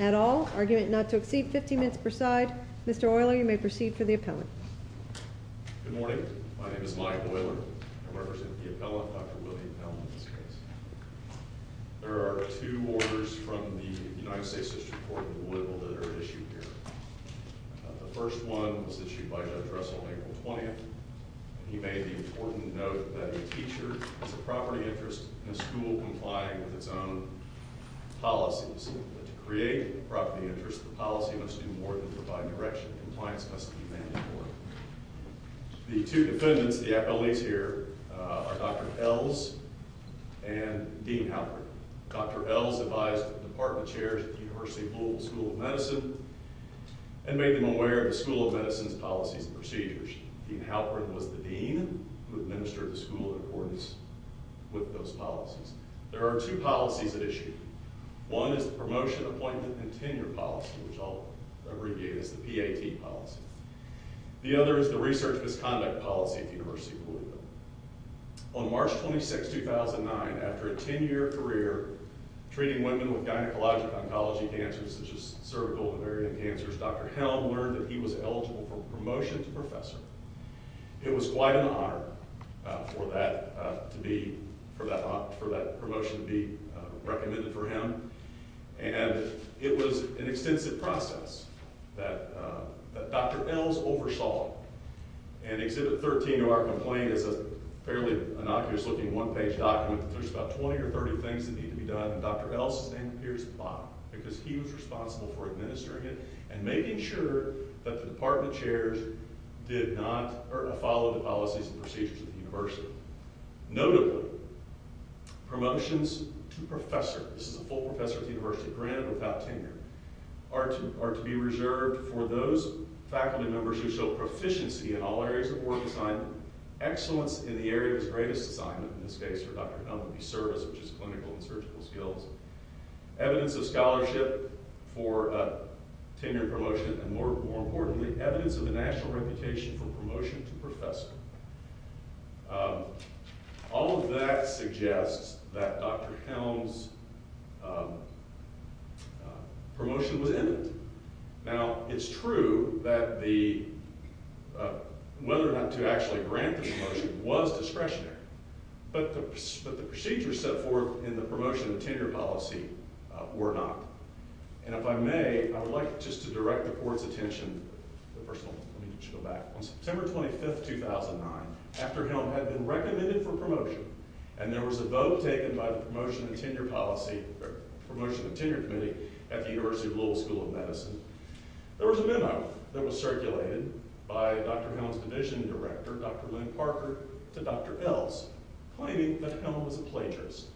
at all. Argument not to exceed 15 minutes per side. Mr. Euler, you may proceed for the appellate. Good morning. My name is Mike Euler. I represent the appellate, Dr. William Helm, in this case. There are two orders from the United States District Court of Louisville that are issued here. The first one was issued by Judge Russell on April 20th. He made the important note that a teacher has a property interest in a school complying with its own policies. To create a property interest, the policy must do more than provide direction. Compliance The two defendants, the appellees here, are Dr. Eells and Dean Halperin. Dr. Eells advised the department chairs at the University of Louisville School of Medicine and made them aware of the School of Medicine's policies and procedures. Dean Halperin was the dean who administered the school in accordance with those policies. There are two policies at issue. One is the promotion, appointment, and tenure policy, which I'll abbreviate as the PAT policy. The other is the research misconduct policy at the University of Louisville. On March 26, 2009, after a 10-year career treating women with gynecologic oncology cancers such as cervical and ovarian cancers, Dr. Helm learned that he was eligible for promotion to professor. It was quite an honor for that promotion to be recommended for him, and it was an extensive process that Dr. Eells oversaw. Exhibit 13 of our complaint is a fairly innocuous looking one-page document. There's about 20 or 30 things that need to be done, and Dr. Eells' name appears at the bottom because he was responsible for administering it and making sure that the department chairs did not follow the policies and procedures of the university. Notably, promotions to professor, this is a full professor at the university granted without tenure, are to be reserved for those faculty members who show proficiency in all areas of work design, excellence in the area of his greatest assignment, in this case for Dr. Helm, which is clinical and surgical skills, evidence of scholarship for tenure promotion, and more importantly, evidence of a national reputation for promotion to professor. All of that suggests that Dr. Helm's promotion was imminent. Now, it's true that whether or not to actually grant the promotion was discretionary, but the procedures set forth in the promotion to tenure policy were not. And if I may, I would like just to direct the board's attention, first of all, let me just go back. On September 25, 2009, after Helm had been recommended for promotion, and there was a vote taken by the promotion to tenure policy, or promotion to tenure committee at the University of Louisville School of Medicine, there was a memo that was circulated by Dr. Helm's division director, Dr. Lynn Parker, to Dr. Ells, claiming that Helm was a plagiarist.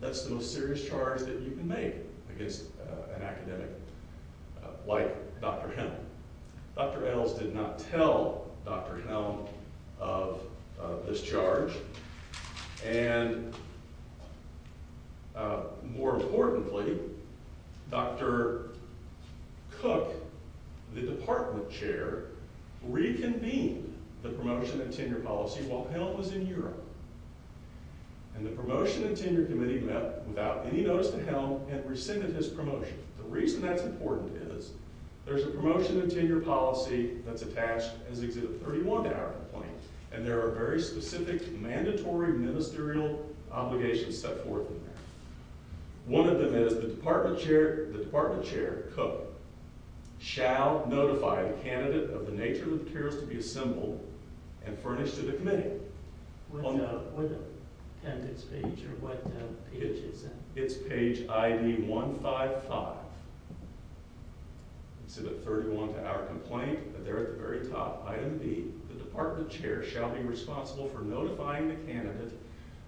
That's the most serious charge that you can make against an academic like Dr. Helm. Dr. Ells did not tell Dr. Helm of this charge, and more importantly, Dr. Cook, the department chair, reconvened the promotion to tenure policy while Helm was in Europe. And the promotion to tenure committee met without any notice to Helm and rescinded his promotion. The reason that's important is there's a promotion to tenure policy that's attached as Exhibit 31 to our complaint, and there are very specific mandatory ministerial obligations set forth in there. One of them is the department chair, Cook, shall notify the candidate of the nature of the chairs to be assembled and furnished to the committee. What page is that? It's page ID 155. Exhibit 31 to our complaint, and there at the very top, Item B, the department chair shall be responsible for notifying the candidate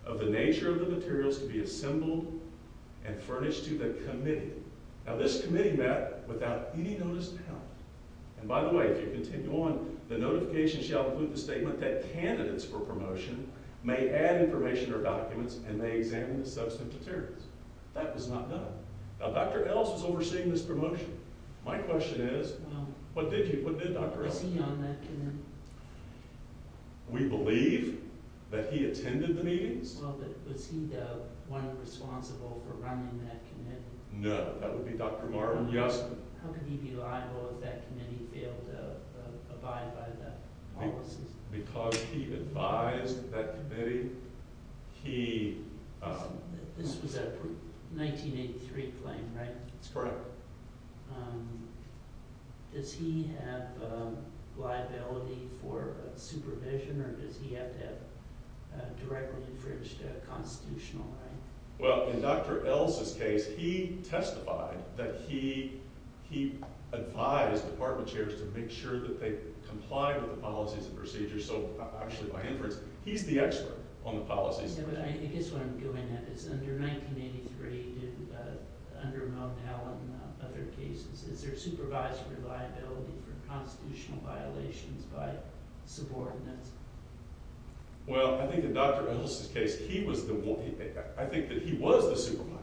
of the nature of the materials to be assembled and furnished to the committee. Now this committee met without any notice to Helm. And by the way, if you continue on, the notification shall include the statement that candidates for promotion may add information or documents and may examine the substantive materials. That was not done. Now Dr. Ells was overseeing this promotion. My question is, what did Dr. Ells do? Was he on that committee? We believe that he attended the meetings. Well, but was he the one responsible for running that committee? No, that would be Dr. Marvin Yostman. How could he be liable if that committee failed to abide by the policies? Because he advised that committee, he... This was a 1983 claim, right? That's correct. Does he have liability for supervision, or does he have to have a directly infringed constitutional right? Well, in Dr. Ells' case, he testified that he advised department chairs to make sure that they complied with the policies and procedures. So actually, by inference, he's the expert on the policies. Yeah, but I guess what I'm going at is, under 1983, under Mondale and other cases, is there supervisory liability for constitutional violations by subordinates? Well, I think in Dr. Ells' case, he was the one. I think that he was the supervisor.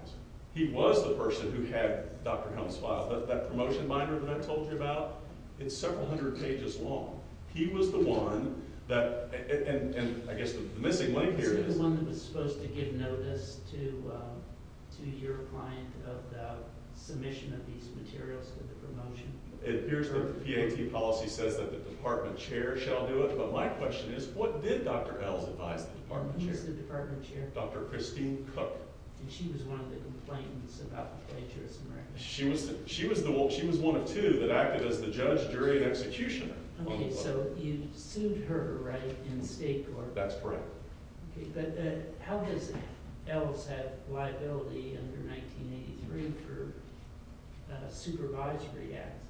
He was the person who had Dr. Helms file that promotion binder that I told you about. It's several hundred pages long. He was the one that... And I guess the missing link here is... Was he the one that was supposed to give notice to your client of the submission of these materials to the promotion? It appears that the PAT policy says that the department chair shall do it, but my question is, what did Dr. Ells advise the department chair? Who was the department chair? Dr. Christine Cook. And she was one of the complainants about the plagiarism right? She was one of two that acted as the judge, jury, and executioner. Okay, so you sued her, right, in state court? That's correct. Okay, but how does Ells have liability under 1983 for supervisory acts?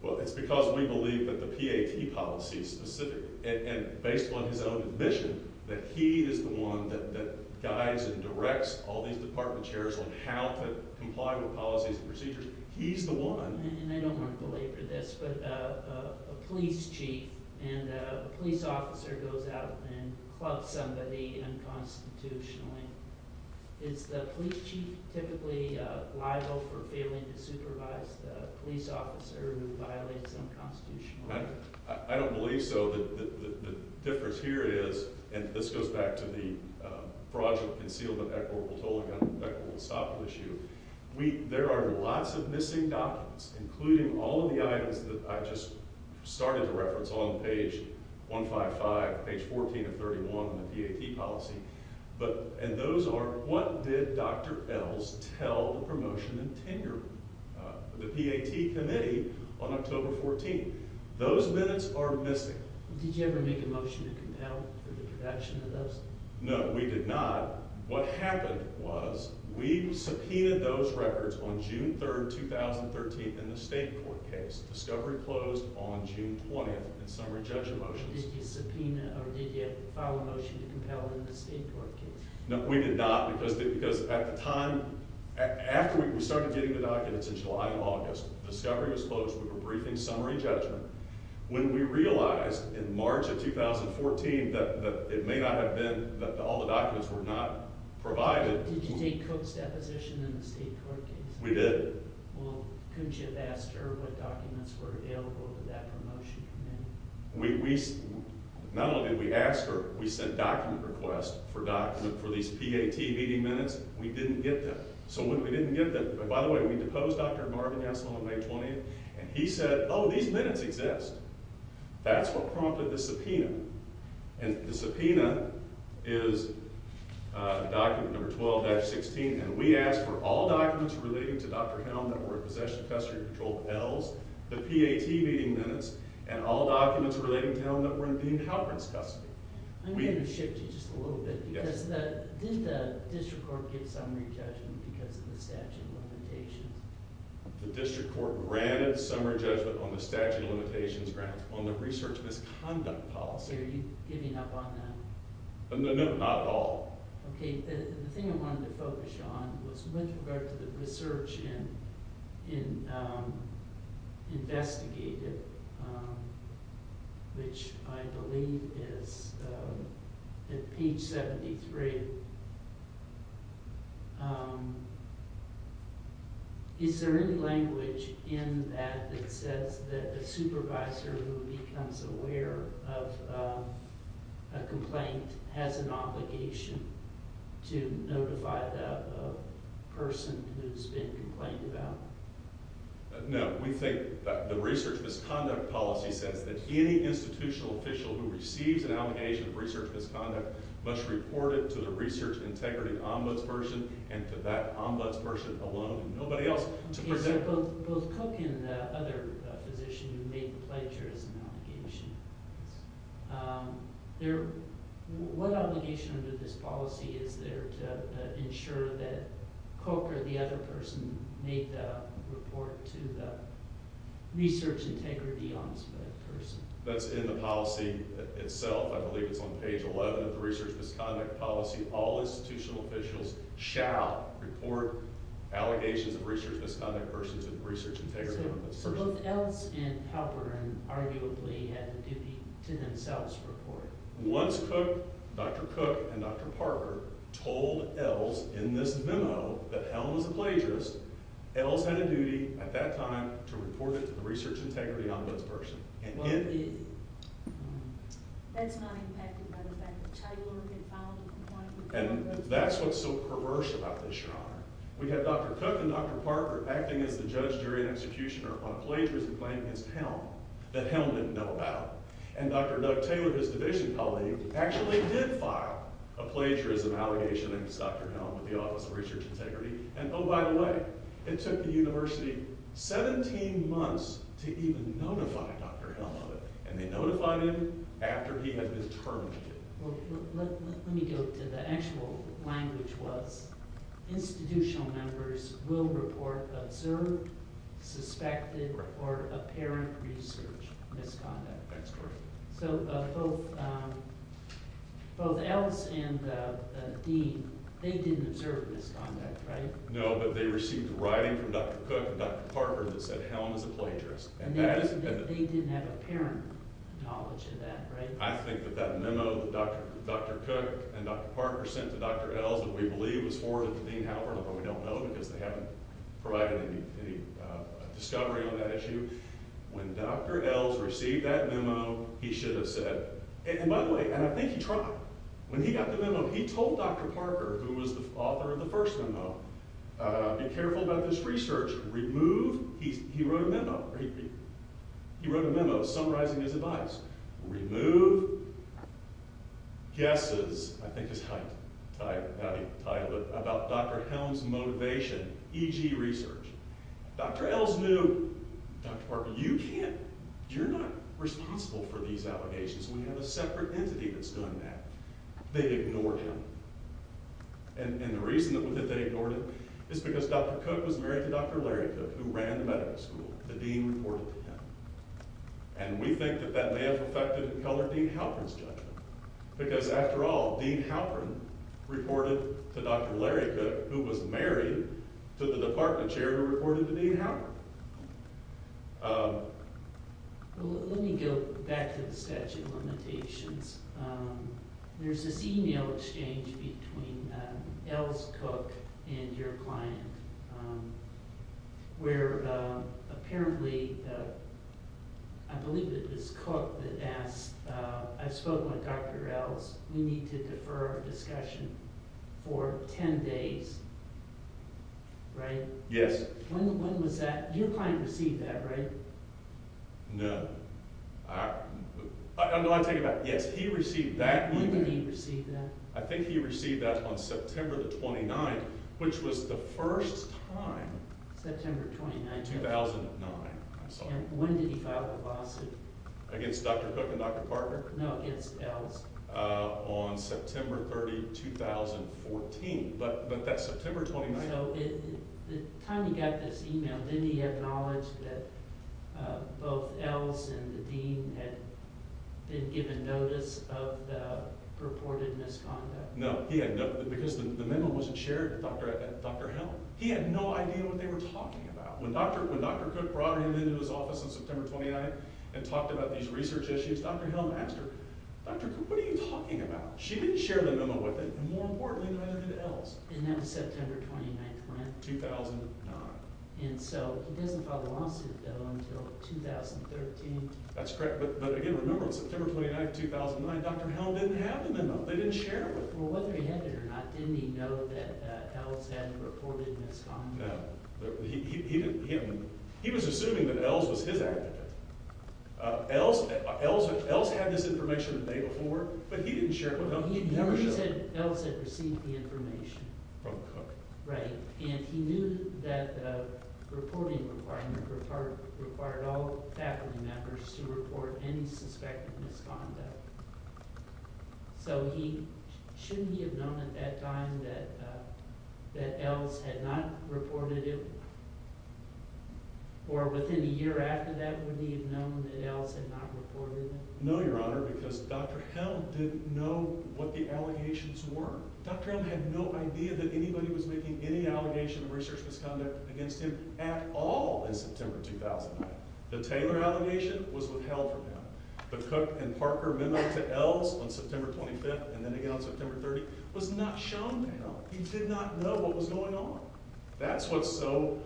Well, it's because we believe that the PAT policy specifically, and based on his own admission, that he is the one that guides and directs all these department chairs on how to comply with policies and procedures. He's the one. And I don't want to belabor this, but a police chief and a police officer goes out and clubs somebody unconstitutionally. Is the police chief typically liable for failing to supervise the police officer who violates unconstitutionally? I don't believe so. The difference here is, and this goes back to the fraudulent concealment and equitable tolling and equitable estoppel issue, there are lots of missing documents, including all of the items that I just started to reference on page 155, page 14 of 31 on the PAT policy. And those are, what did Dr. Ells tell the promotion and tenure, the PAT committee on October 14th? Those minutes are missing. Did you ever make a motion to compel for the production of those? No, we did not. What happened was we subpoenaed those records on June 3rd, 2013 in the state court case. Discovery closed on June 20th in summary judgment motions. Did you subpoena or did you file a motion to compel in the state court case? No, we did not because at the time, after we started getting the documents in July and August, Discovery was closed. We were briefing summary judgment. When we realized in March of 2014 that it may not have been, that all the documents were not provided. Did you take Cook's deposition in the state court case? We did. Couldn't you have asked her what documents were available to that promotion committee? Not only did we ask her, we sent document requests for document for these PAT meeting minutes. We didn't get them. So when we didn't get them, by the way, we deposed Dr. Marvin Gasol on May 20th, and he said, oh, these are the subpoenas. And the subpoena is document number 12-16, and we asked for all documents relating to Dr. Hound that were in possession of custody control pills, the PAT meeting minutes, and all documents relating to Hound that were in Dean Halperin's custody. I'm going to shift you just a little bit. Yes. Did the district court get summary judgment because of the statute of limitations? The district court granted summary judgment on the statute of limitations grounds on the research misconduct policy. Are you giving up on that? No, not at all. Okay. The thing I wanted to focus on was with regard to the research in investigative, which I believe is at page 73. Is there any language in that that says that the supervisor who becomes aware of a complaint has an obligation to notify the person who's been complained about? No. We think the research misconduct policy says that any institutional official who receives an allegation of research misconduct must report it to the research integrity ombudsperson and to that ombudsperson alone and nobody else. Okay, so both Cook and the other physician who made the pledger has an obligation. Yes. What obligation under this policy is there to ensure that Cook or the other person made the report to the research integrity ombudsperson? That's in the policy itself. I believe it's on page 11 of the research misconduct policy. All institutional officials shall report allegations of research misconduct versus research integrity ombudsperson. So both Ells and Halperin arguably had the duty to themselves report. Once Cook, Dr. Cook and Dr. Parker told Ells in this memo that Ells was a plagiarist, Ells had a duty at that time to report it to the research integrity ombudsperson. What if? That's not impacted by the fact that Taylor had filed a complaint. And that's what's so perverse about this, Your Honor. We have Dr. Cook and Dr. Parker acting as the judge, jury and executioner on a plagiarism claim against Helm that Helm didn't know about. And Dr. Doug Taylor, his division colleague, actually did file a plagiarism allegation against Dr. Helm with the Office of Research Integrity. And oh, by the way, it took the university 17 months to even notify Dr. Helm of it. And they notified him after he had been terminated. Well, let me go to the actual language was institutional members will report observed, suspected or apparent research misconduct. That's correct. So both Ells and Dean, they didn't observe misconduct, right? No, but they received writing from Dr. Cook and Dr. Parker that said Helm is a plagiarist. And they didn't have apparent knowledge of that, right? I think that that memo that Dr. Cook and Dr. Parker sent to Dr. Ells that we believe was forwarded to Dean Halpern, but we don't know because they haven't provided any discovery on that issue. When Dr. Ells received that memo, he should have said, and by the way, and I think he tried. When he got the memo, he told Dr. Parker, who was the author of the first memo, be careful about this research. He wrote a memo summarizing his advice. Remove guesses, I think is how he titled it, about Dr. Helm's motivation, e.g. research. Dr. Ells knew, Dr. Parker, you're not responsible for these allegations. We have a separate entity that's doing that. They ignored him. And the reason that they ignored him is because Dr. Cook was married to Dr. Larry Cook, who ran the medical school. The dean reported to him. And we think that that may have affected and colored Dean Halpern's judgment. Because, after all, Dean Halpern reported to Dr. Larry Cook, who was married to the department chair who reported to Dean Halpern. Let me go back to the statute of limitations. There's this e-mail exchange between Ells Cook and your client, where apparently, I believe it was Cook that asked, I spoke with Dr. Ells, we need to defer our discussion for 10 days, right? Yes. When was that? Your client received that, right? No. I'm not talking about, yes, he received that e-mail. When did he receive that? I think he received that on September 29th, which was the first time. September 29th. 2009. And when did he file the lawsuit? Against Dr. Cook and Dr. Parker? No, against Ells. On September 30th, 2014. But that's September 29th. So, by the time he got this e-mail, didn't he acknowledge that both Ells and the dean had been given notice of the purported misconduct? No, because the memo wasn't shared with Dr. Helm. He had no idea what they were talking about. When Dr. Cook brought her into his office on September 29th and talked about these research issues, Dr. Helm asked her, Dr. Cook, what are you talking about? She didn't share the memo with him, and more importantly, neither did Ells. And that was September 29th, when? 2009. And so he doesn't file the lawsuit, though, until 2013. That's correct. But, again, remember, on September 29th, 2009, Dr. Helm didn't have the memo. They didn't share it with him. Well, whether he had it or not, didn't he know that Ells had reported misconduct? No. He didn't. He was assuming that Ells was his activist. Ells had this information the day before, but he didn't share it with him. He never showed it. Ells had received the information. From Cook. Right. And he knew that the reporting requirement required all faculty members to report any suspected misconduct. So shouldn't he have known at that time that Ells had not reported it? Or within a year after that, would he have known that Ells had not reported it? No, Your Honor, because Dr. Helm didn't know what the allegations were. Dr. Helm had no idea that anybody was making any allegation of research misconduct against him at all in September 2009. The Taylor allegation was withheld from him. The Cook and Parker memo to Ells on September 25th and then again on September 30th was not shown to him. He did not know what was going on. That's what's so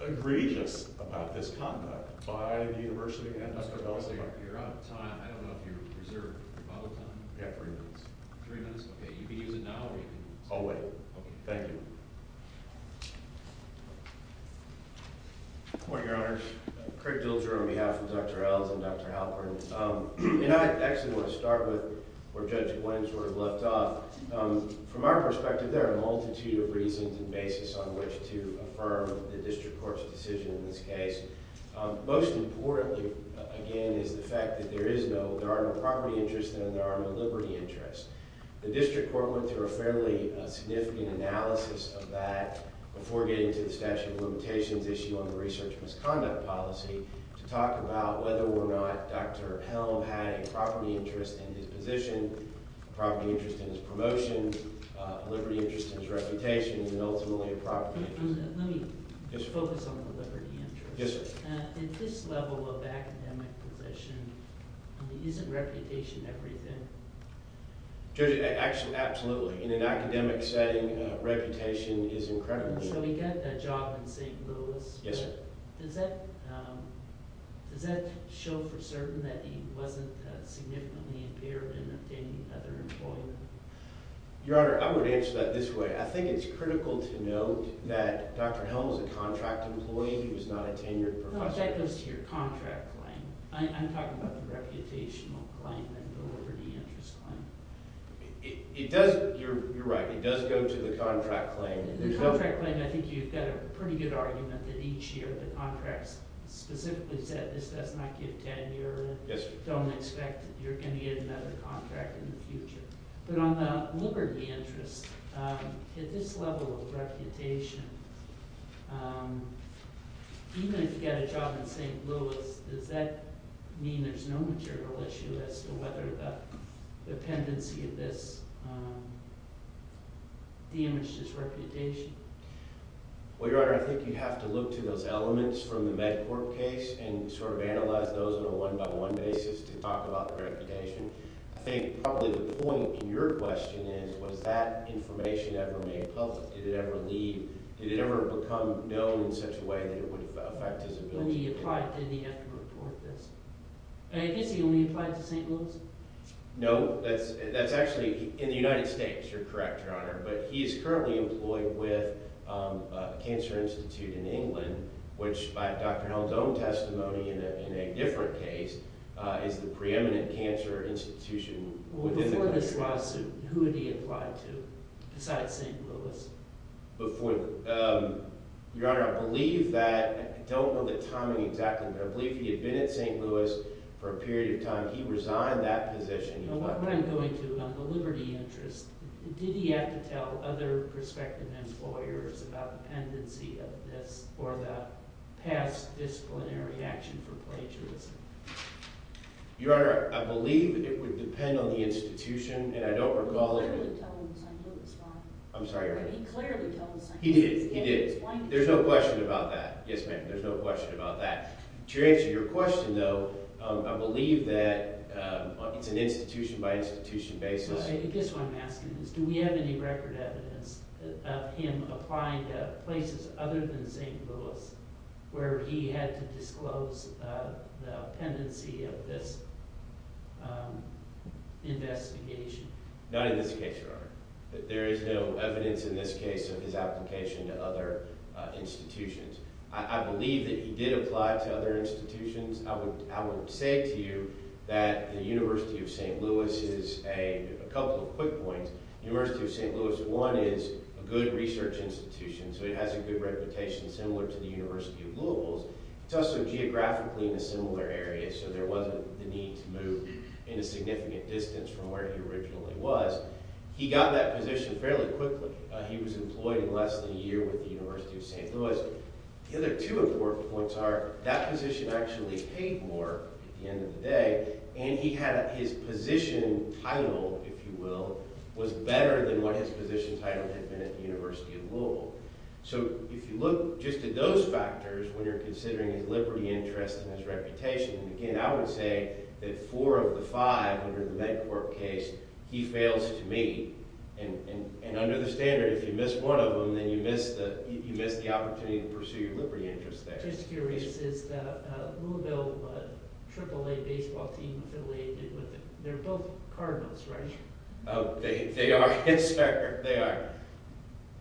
egregious about this conduct by the University and Dr. Ells. You're out of time. I don't know if you reserved your model time. Yeah, three minutes. Three minutes? Okay. You can use it now or you can use it later. I'll wait. Okay. Thank you. Good morning, Your Honor. Craig Dilger on behalf of Dr. Ells and Dr. Halpern. And I actually want to start with where Judge Blanchard left off. From our perspective, there are a multitude of reasons and basis on which to affirm the district court's decision in this case. Most importantly, again, is the fact that there are no property interests and there are no liberty interests. The district court went through a fairly significant analysis of that before getting to the statute of limitations issue on the research misconduct policy to talk about whether or not Dr. Helm had a property interest in his position, a property interest in his promotion, a liberty interest in his reputation, and ultimately a property interest. Let me focus on the liberty interest. Yes, sir. At this level of academic position, isn't reputation everything? Absolutely. In an academic setting, reputation is incredibly important. So we got that job in St. Louis. Yes, sir. Does that show for certain that he wasn't significantly impaired in obtaining other employment? Your Honor, I would answer that this way. I think it's critical to note that Dr. Helm is a contract employee. He was not a tenured professor. That goes to your contract claim. I'm talking about the reputational claim and the liberty interest claim. You're right. It does go to the contract claim. The contract claim, I think you've got a pretty good argument that each year the contracts specifically said this does not give tenure. Yes, sir. Don't expect you're going to get another contract in the future. But on the liberty interest, at this level of reputation, even if you get a job in St. Louis, does that mean there's no material issue as to whether the dependency of this damaged his reputation? Well, Your Honor, I think you have to look to those elements from the MedCorp case and sort of analyze those on a one-by-one basis to talk about the reputation. I think probably the point in your question is, was that information ever made public? Did it ever become known in such a way that it would affect his ability? When he applied, didn't he have to report this? I guess he only applied to St. Louis. No. That's actually in the United States. You're correct, Your Honor. But he's currently employed with a cancer institute in England, which by Dr. Helms' own testimony in a different case, is the preeminent cancer institution within the country. Before this lawsuit, who had he applied to besides St. Louis? Before – Your Honor, I believe that – I don't know the timing exactly, but I believe he had been at St. Louis for a period of time. He resigned that position. When I'm going to the liberty interest, did he have to tell other prospective employers about the tendency of this or the past disciplinary action for plagiarism? Your Honor, I believe it would depend on the institution, and I don't recall – He clearly told St. Louis. I'm sorry, Your Honor. He clearly told St. Louis. He did. He did. There's no question about that. Yes, ma'am. There's no question about that. To answer your question, though, I believe that it's an institution-by-institution basis. I guess what I'm asking is do we have any record evidence of him applying to places other than St. Louis where he had to disclose the tendency of this investigation? Not in this case, Your Honor. There is no evidence in this case of his application to other institutions. I believe that he did apply to other institutions. I would say to you that the University of St. Louis is a – a couple of quick points. The University of St. Louis, one, is a good research institution, so it has a good reputation similar to the University of Louisville's. It's also geographically in a similar area, so there wasn't the need to move in a significant distance from where he originally was. He got that position fairly quickly. He was employed in less than a year with the University of St. Louis. The other two important points are that position actually paid more at the end of the day, and he had – his position title, if you will, was better than what his position title had been at the University of Louisville. So if you look just at those factors when you're considering his liberty interest and his reputation, again, I would say that four of the five under the MedCorp case, he fails to meet. And under the standard, if you miss one of them, then you miss the – you miss the opportunity to pursue your liberty interest there. Just curious, is the Louisville AAA baseball team affiliated with it? They're both Cardinals, right? They are, Inspector. They are.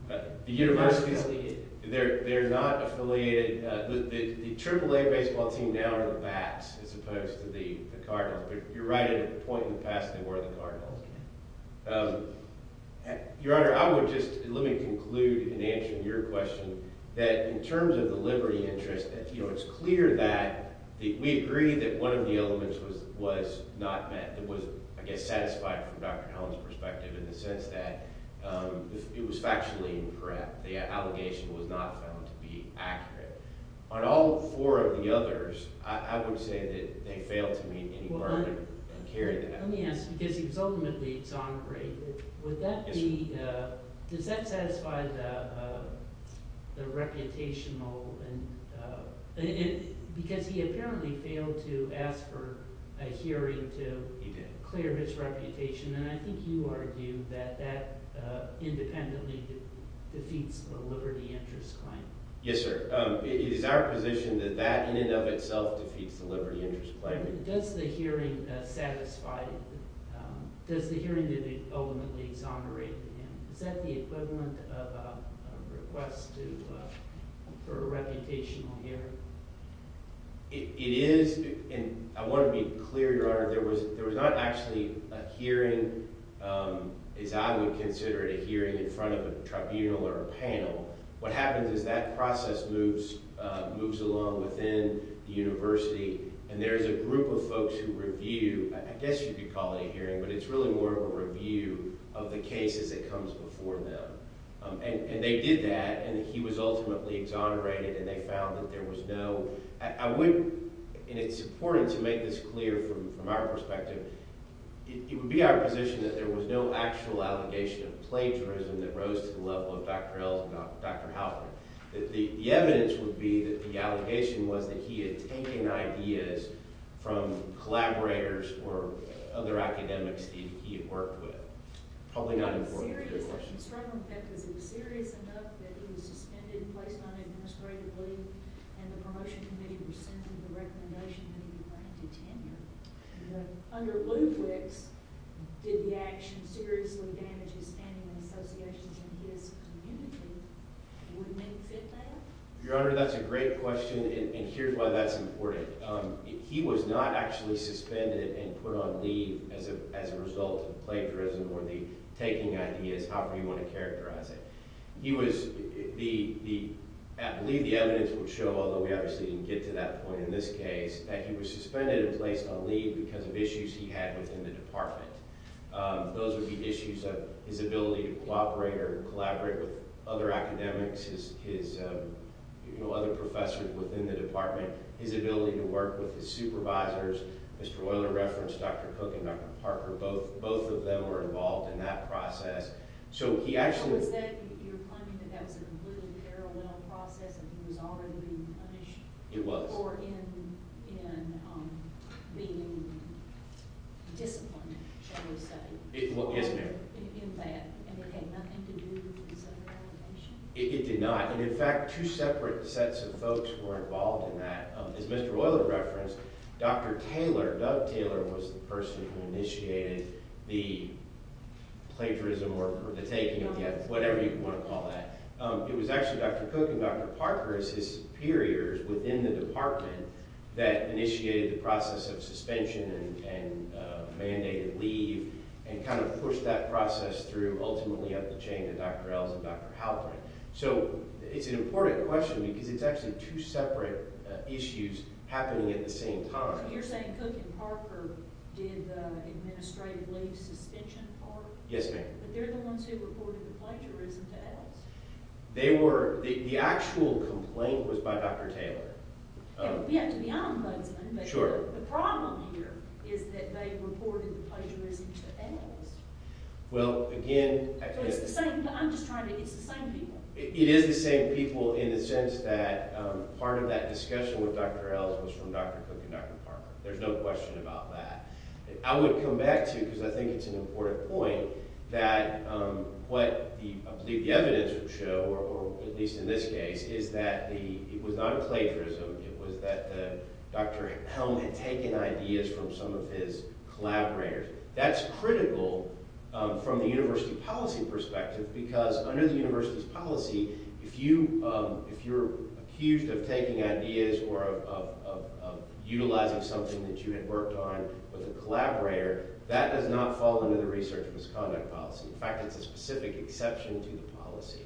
The University – they're not affiliated. The AAA baseball team now are the Bats as opposed to the Cardinals, but you're right at a point in the past they were the Cardinals. Your Honor, I would just – let me conclude in answering your question that in terms of the liberty interest, it's clear that we agree that one of the elements was not met. It was, I guess, satisfied from Dr. Hellen's perspective in the sense that it was factually incorrect. The allegation was not found to be accurate. On all four of the others, I would say that they failed to meet any burden and carry that. Let me ask, because he was ultimately exonerated, would that be – does that satisfy the reputational – because he apparently failed to ask for a hearing to clear his reputation. And I think you argue that that independently defeats the liberty interest claim. Yes, sir. It is our position that that in and of itself defeats the liberty interest claim. But does the hearing satisfy – does the hearing ultimately exonerate him? Is that the equivalent of a request to – for a reputational hearing? It is, and I want to be clear, Your Honor, there was not actually a hearing, as I would consider it, a hearing in front of a tribunal or a panel. What happens is that process moves along within the university, and there is a group of folks who review – I guess you could call it a hearing, but it's really more of a review of the cases that comes before them. And they did that, and he was ultimately exonerated, and they found that there was no – I would – and it's important to make this clear from our perspective. It would be our position that there was no actual allegation of plagiarism that rose to the level of Dr. Howard. The evidence would be that the allegation was that he had taken ideas from collaborators or other academics that he had worked with. Probably not important to your question. Your Honor, that's a great question, and here's why that's important. He was not actually suspended and put on leave as a result of plagiarism or the taking ideas, however you want to characterize it. He was – the – I believe the evidence would show, although we obviously didn't get to that point in this case, that he was suspended and placed on leave because of issues he had within the department. Those would be issues of his ability to cooperate or collaborate with other academics, his – you know, other professors within the department, his ability to work with his supervisors. Mr. Woyler referenced Dr. Cook and Dr. Parker. Both of them were involved in that process. So he actually – So is that – you're claiming that that was a completely parallel process and he was already being punished? It was. Or in being disciplined, shall we say? Yes, ma'am. In that, and it had nothing to do with his other allegations? It did not. And in fact, two separate sets of folks were involved in that. As Mr. Woyler referenced, Dr. Taylor, Doug Taylor, was the person who initiated the plagiarism or the taking of the – whatever you want to call that. It was actually Dr. Cook and Dr. Parker as his superiors within the department that initiated the process of suspension and mandated leave and kind of pushed that process through, ultimately up the chain to Dr. Ells and Dr. Halperin. So it's an important question because it's actually two separate issues happening at the same time. So you're saying Cook and Parker did the administrative leave suspension part? Yes, ma'am. But they're the ones who reported the plagiarism to Ells? They were – the actual complaint was by Dr. Taylor. We have to be honest, but the problem here is that they reported the plagiarism to Ells. Well, again – So it's the same – I'm just trying to – it's the same people. It is the same people in the sense that part of that discussion with Dr. Ells was from Dr. Cook and Dr. Parker. There's no question about that. I would come back to, because I think it's an important point, that what I believe the evidence would show, or at least in this case, is that it was not plagiarism. It was that Dr. Helm had taken ideas from some of his collaborators. That's critical from the university policy perspective because under the university's policy, if you're accused of taking ideas or of utilizing something that you had worked on with a collaborator, that does not fall under the research misconduct policy. In fact, it's a specific exception to the policy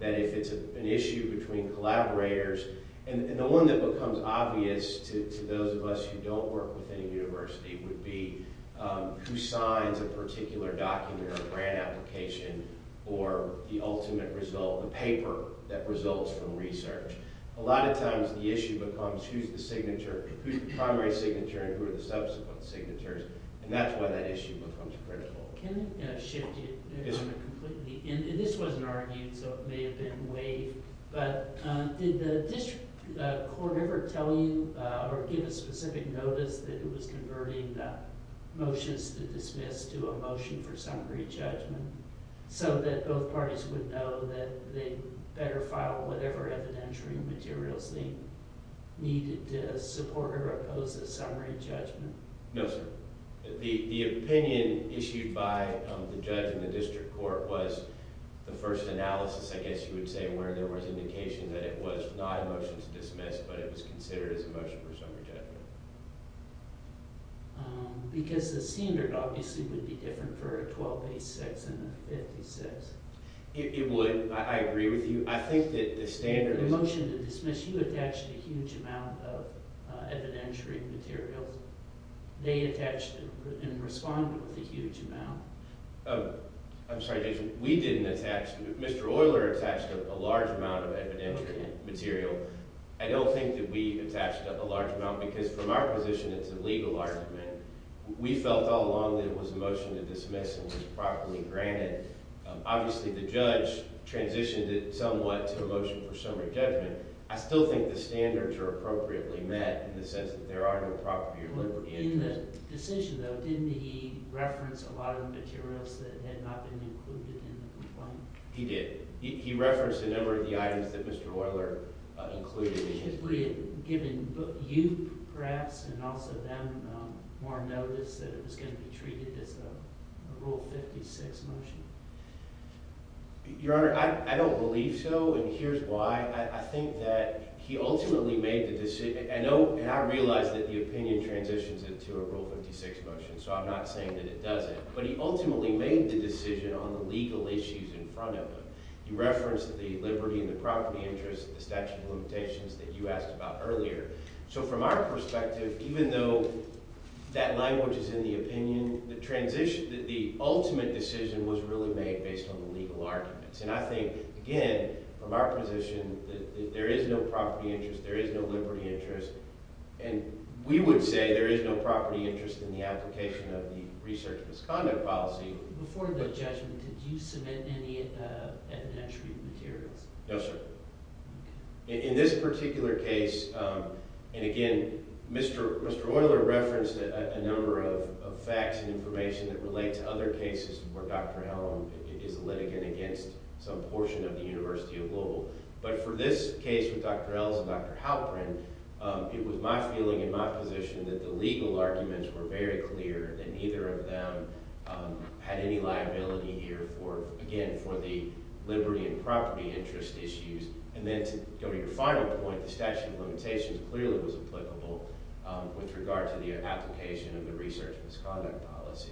that if it's an issue between collaborators – And the one that becomes obvious to those of us who don't work with any university would be who signs a particular document or grant application or the ultimate result, the paper that results from research. A lot of times the issue becomes who's the signature – who's the primary signature and who are the subsequent signatures, and that's why that issue becomes critical. Can I shift you completely? This wasn't argued, so it may have been waived, but did the district court ever tell you or give a specific notice that it was converting motions to dismiss to a motion for summary judgment so that both parties would know that they better file whatever evidentiary materials they needed to support or oppose a summary judgment? No, sir. The opinion issued by the judge in the district court was the first analysis, I guess you would say, where there was indication that it was not a motion to dismiss, but it was considered as a motion for summary judgment. Because the standard obviously would be different for a 1286 and a 56. It would. I agree with you. I think that the standard – The two attached a huge amount of evidentiary materials. They attached and responded with a huge amount. I'm sorry, Jason. We didn't attach – Mr. Oyler attached a large amount of evidentiary material. I don't think that we attached a large amount because from our position it's a legal argument. We felt all along that it was a motion to dismiss and was properly granted. Obviously, the judge transitioned it somewhat to a motion for summary judgment. I still think the standards are appropriately met in the sense that there are no property or liberty interests. In the decision, though, didn't he reference a lot of the materials that had not been included in the complaint? He did. He referenced a number of the items that Mr. Oyler included in it. Would it have given you, perhaps, and also them more notice that it was going to be treated as a Rule 56 motion? Your Honor, I don't believe so, and here's why. I think that he ultimately made the – and I realize that the opinion transitions it to a Rule 56 motion, so I'm not saying that it doesn't. But he ultimately made the decision on the legal issues in front of him. He referenced the liberty and the property interests, the statute of limitations that you asked about earlier. So from our perspective, even though that language is in the opinion, the ultimate decision was really made based on the legal arguments. And I think, again, from our position that there is no property interest, there is no liberty interest, and we would say there is no property interest in the application of the research misconduct policy. Before the judgment, did you submit any evidentiary materials? Yes, sir. In this particular case – and again, Mr. Oyler referenced a number of facts and information that relate to other cases where Dr. Elm is a litigant against some portion of the University of Louisville. But for this case with Dr. Elm and Dr. Halperin, it was my feeling and my position that the legal arguments were very clear and neither of them had any liability here for – again, for the liberty and property interest issues. And then to go to your final point, the statute of limitations clearly was applicable with regard to the application of the research misconduct policy.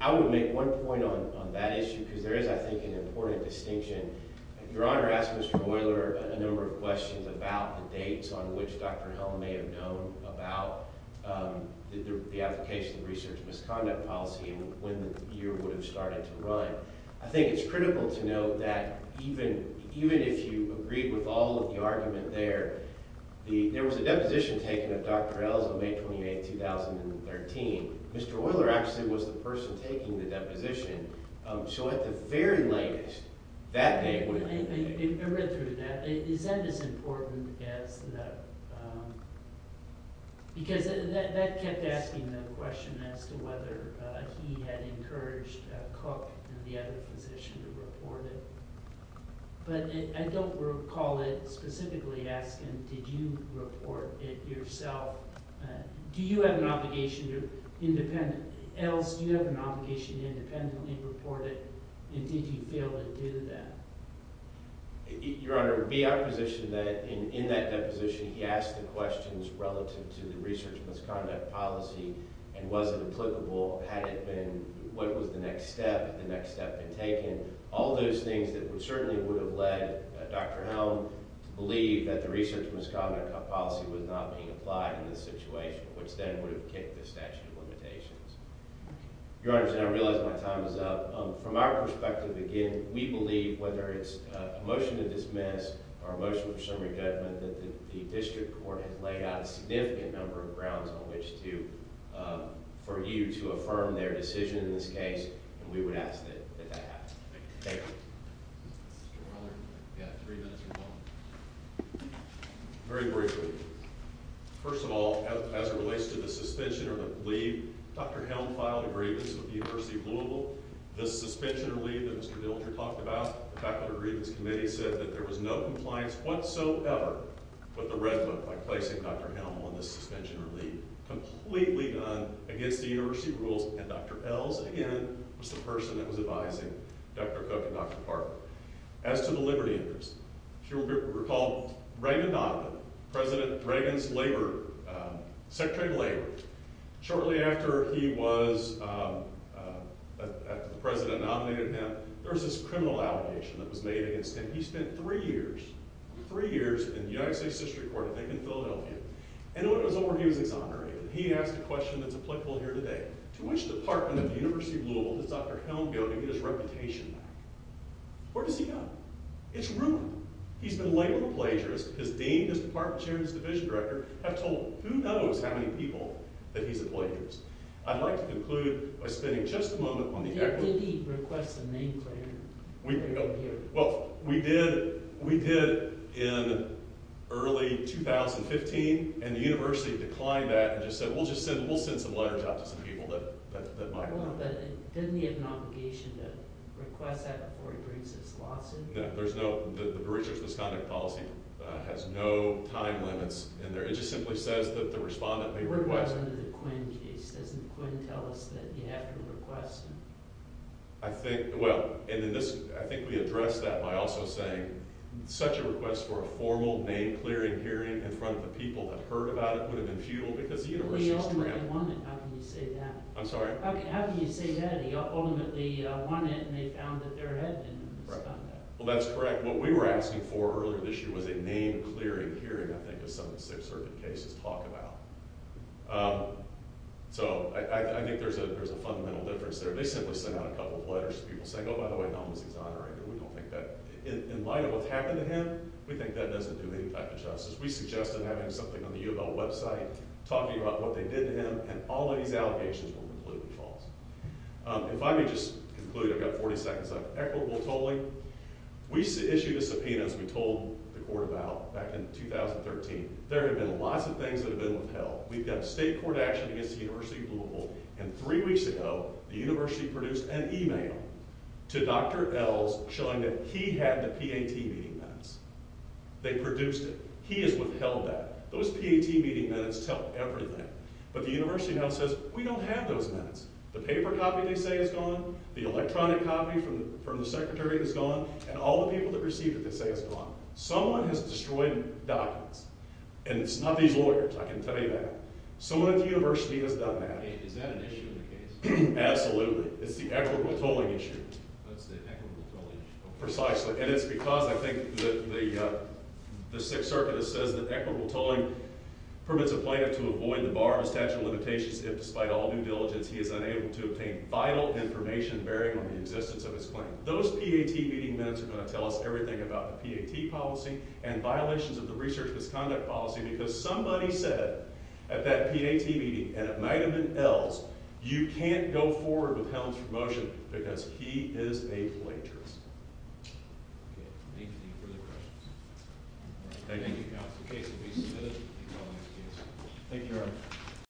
I would make one point on that issue because there is, I think, an important distinction. Your Honor asked Mr. Oyler a number of questions about the dates on which Dr. Elm may have known about the application of the research misconduct policy and when the year would have started to run. But I think it's critical to note that even if you agreed with all of the argument there, there was a deposition taken of Dr. Elm May 28, 2013. Mr. Oyler actually was the person taking the deposition. So at the very latest, that date would have been – I read through that. Is that as important as the – because that kept asking the question as to whether he had encouraged Cook and the other physician to report it. But I don't recall it specifically asking, did you report it yourself? Do you have an obligation to independent – else, do you have an obligation to independently report it and did you fail to do that? Your Honor, it would be my position that in that deposition, he asked the questions relative to the research misconduct policy and was it applicable. Had it been – what was the next step? Had the next step been taken? All those things that certainly would have led Dr. Elm to believe that the research misconduct policy was not being applied in this situation, which then would have kicked the statute of limitations. Your Honor, I realize my time is up. From our perspective, again, we believe whether it's a motion to dismiss or a motion for summary judgment that the district court has laid out a significant number of grounds on which to – for you to affirm their decision in this case and we would ask that that happen. Thank you. Mr. Oyler, you have three minutes to respond. Very briefly. First of all, as it relates to the suspension or the leave, Dr. Elm filed a grievance with the University of Louisville. The suspension or leave that Mr. Dilger talked about, the Faculty Grievance Committee said that there was no compliance whatsoever with the red book by placing Dr. Elm on the suspension or leave. Completely done against the university rules and Dr. Elm, again, was the person that was advising Dr. Cook and Dr. Parker. As to the liberty interest, if you recall, Reagan Donovan, President Reagan's Labor – Secretary of Labor, shortly after he was – after the President nominated him, there was this criminal allegation that was made against him. He spent three years – three years in the United States District Court, I think in Philadelphia, and when it was over, he was exonerated. He asked a question that's applicable here today. To which department of the University of Louisville does Dr. Elm go to get his reputation back? Where does he go? It's rude. He's been labeled a plagiarist. His dean, his department chair, and his division director have told who knows how many people that he's a plagiarist. I'd like to conclude by spending just a moment on the equity – Did he request a name for him? Well, we did – we did in early 2015, and the university declined that and just said, we'll just send – we'll send some letters out to some people that might want him. Didn't he have an obligation to request that before he brings his lawsuit? No, there's no – the breach of his misconduct policy has no time limits in there. It just simply says that the respondent may request – What about under the Quinn case? Doesn't Quinn tell us that you have to request him? I think – well, and in this – I think we addressed that by also saying such a request for a formal name-clearing hearing in front of the people that heard about it would have been futile because the university's trampled – Well, he ultimately won it. How can you say that? I'm sorry? How can you say that? He ultimately won it, and they found that their head didn't respond to that. Right. Well, that's correct. What we were asking for earlier this year was a name-clearing hearing, I think, as some of the Sixth Circuit cases talk about. So, I think there's a fundamental difference there. They simply sent out a couple of letters to people saying, oh, by the way, no one was exonerated. We don't think that – in light of what's happened to him, we think that doesn't do any back-to-justice. We suggested having something on the UofL website talking about what they did to him, and all of these allegations were completely false. If I may just conclude – I've got 40 seconds left – equitable tolling. We issued a subpoena, as we told the court about, back in 2013. There have been lots of things that have been withheld. We've got state court action against the University of Louisville, and three weeks ago, the university produced an email to Dr. Ells showing that he had the PAT meeting minutes. They produced it. He has withheld that. Those PAT meeting minutes tell everything, but the university now says, we don't have those minutes. The paper copy, they say, is gone, the electronic copy from the secretary is gone, and all the people that received it, they say, is gone. Someone has destroyed documents, and it's not these lawyers. I can tell you that. Someone at the university has done that. Is that an issue in the case? Absolutely. It's the equitable tolling issue. Oh, it's the equitable tolling issue. Precisely, and it's because I think the Sixth Circuit says that equitable tolling permits a plaintiff to avoid the bar of statute of limitations if, despite all due diligence, he is unable to obtain vital information bearing on the existence of his claim. Those PAT meeting minutes are going to tell us everything about the PAT policy and violations of the research misconduct policy, because somebody said at that PAT meeting, and it might have been Ells, you can't go forward with Hellen's promotion because he is a plagiarist. Okay. Any further questions? Thank you. Thank you, counsel. The case will be submitted. Thank you, Your Honor.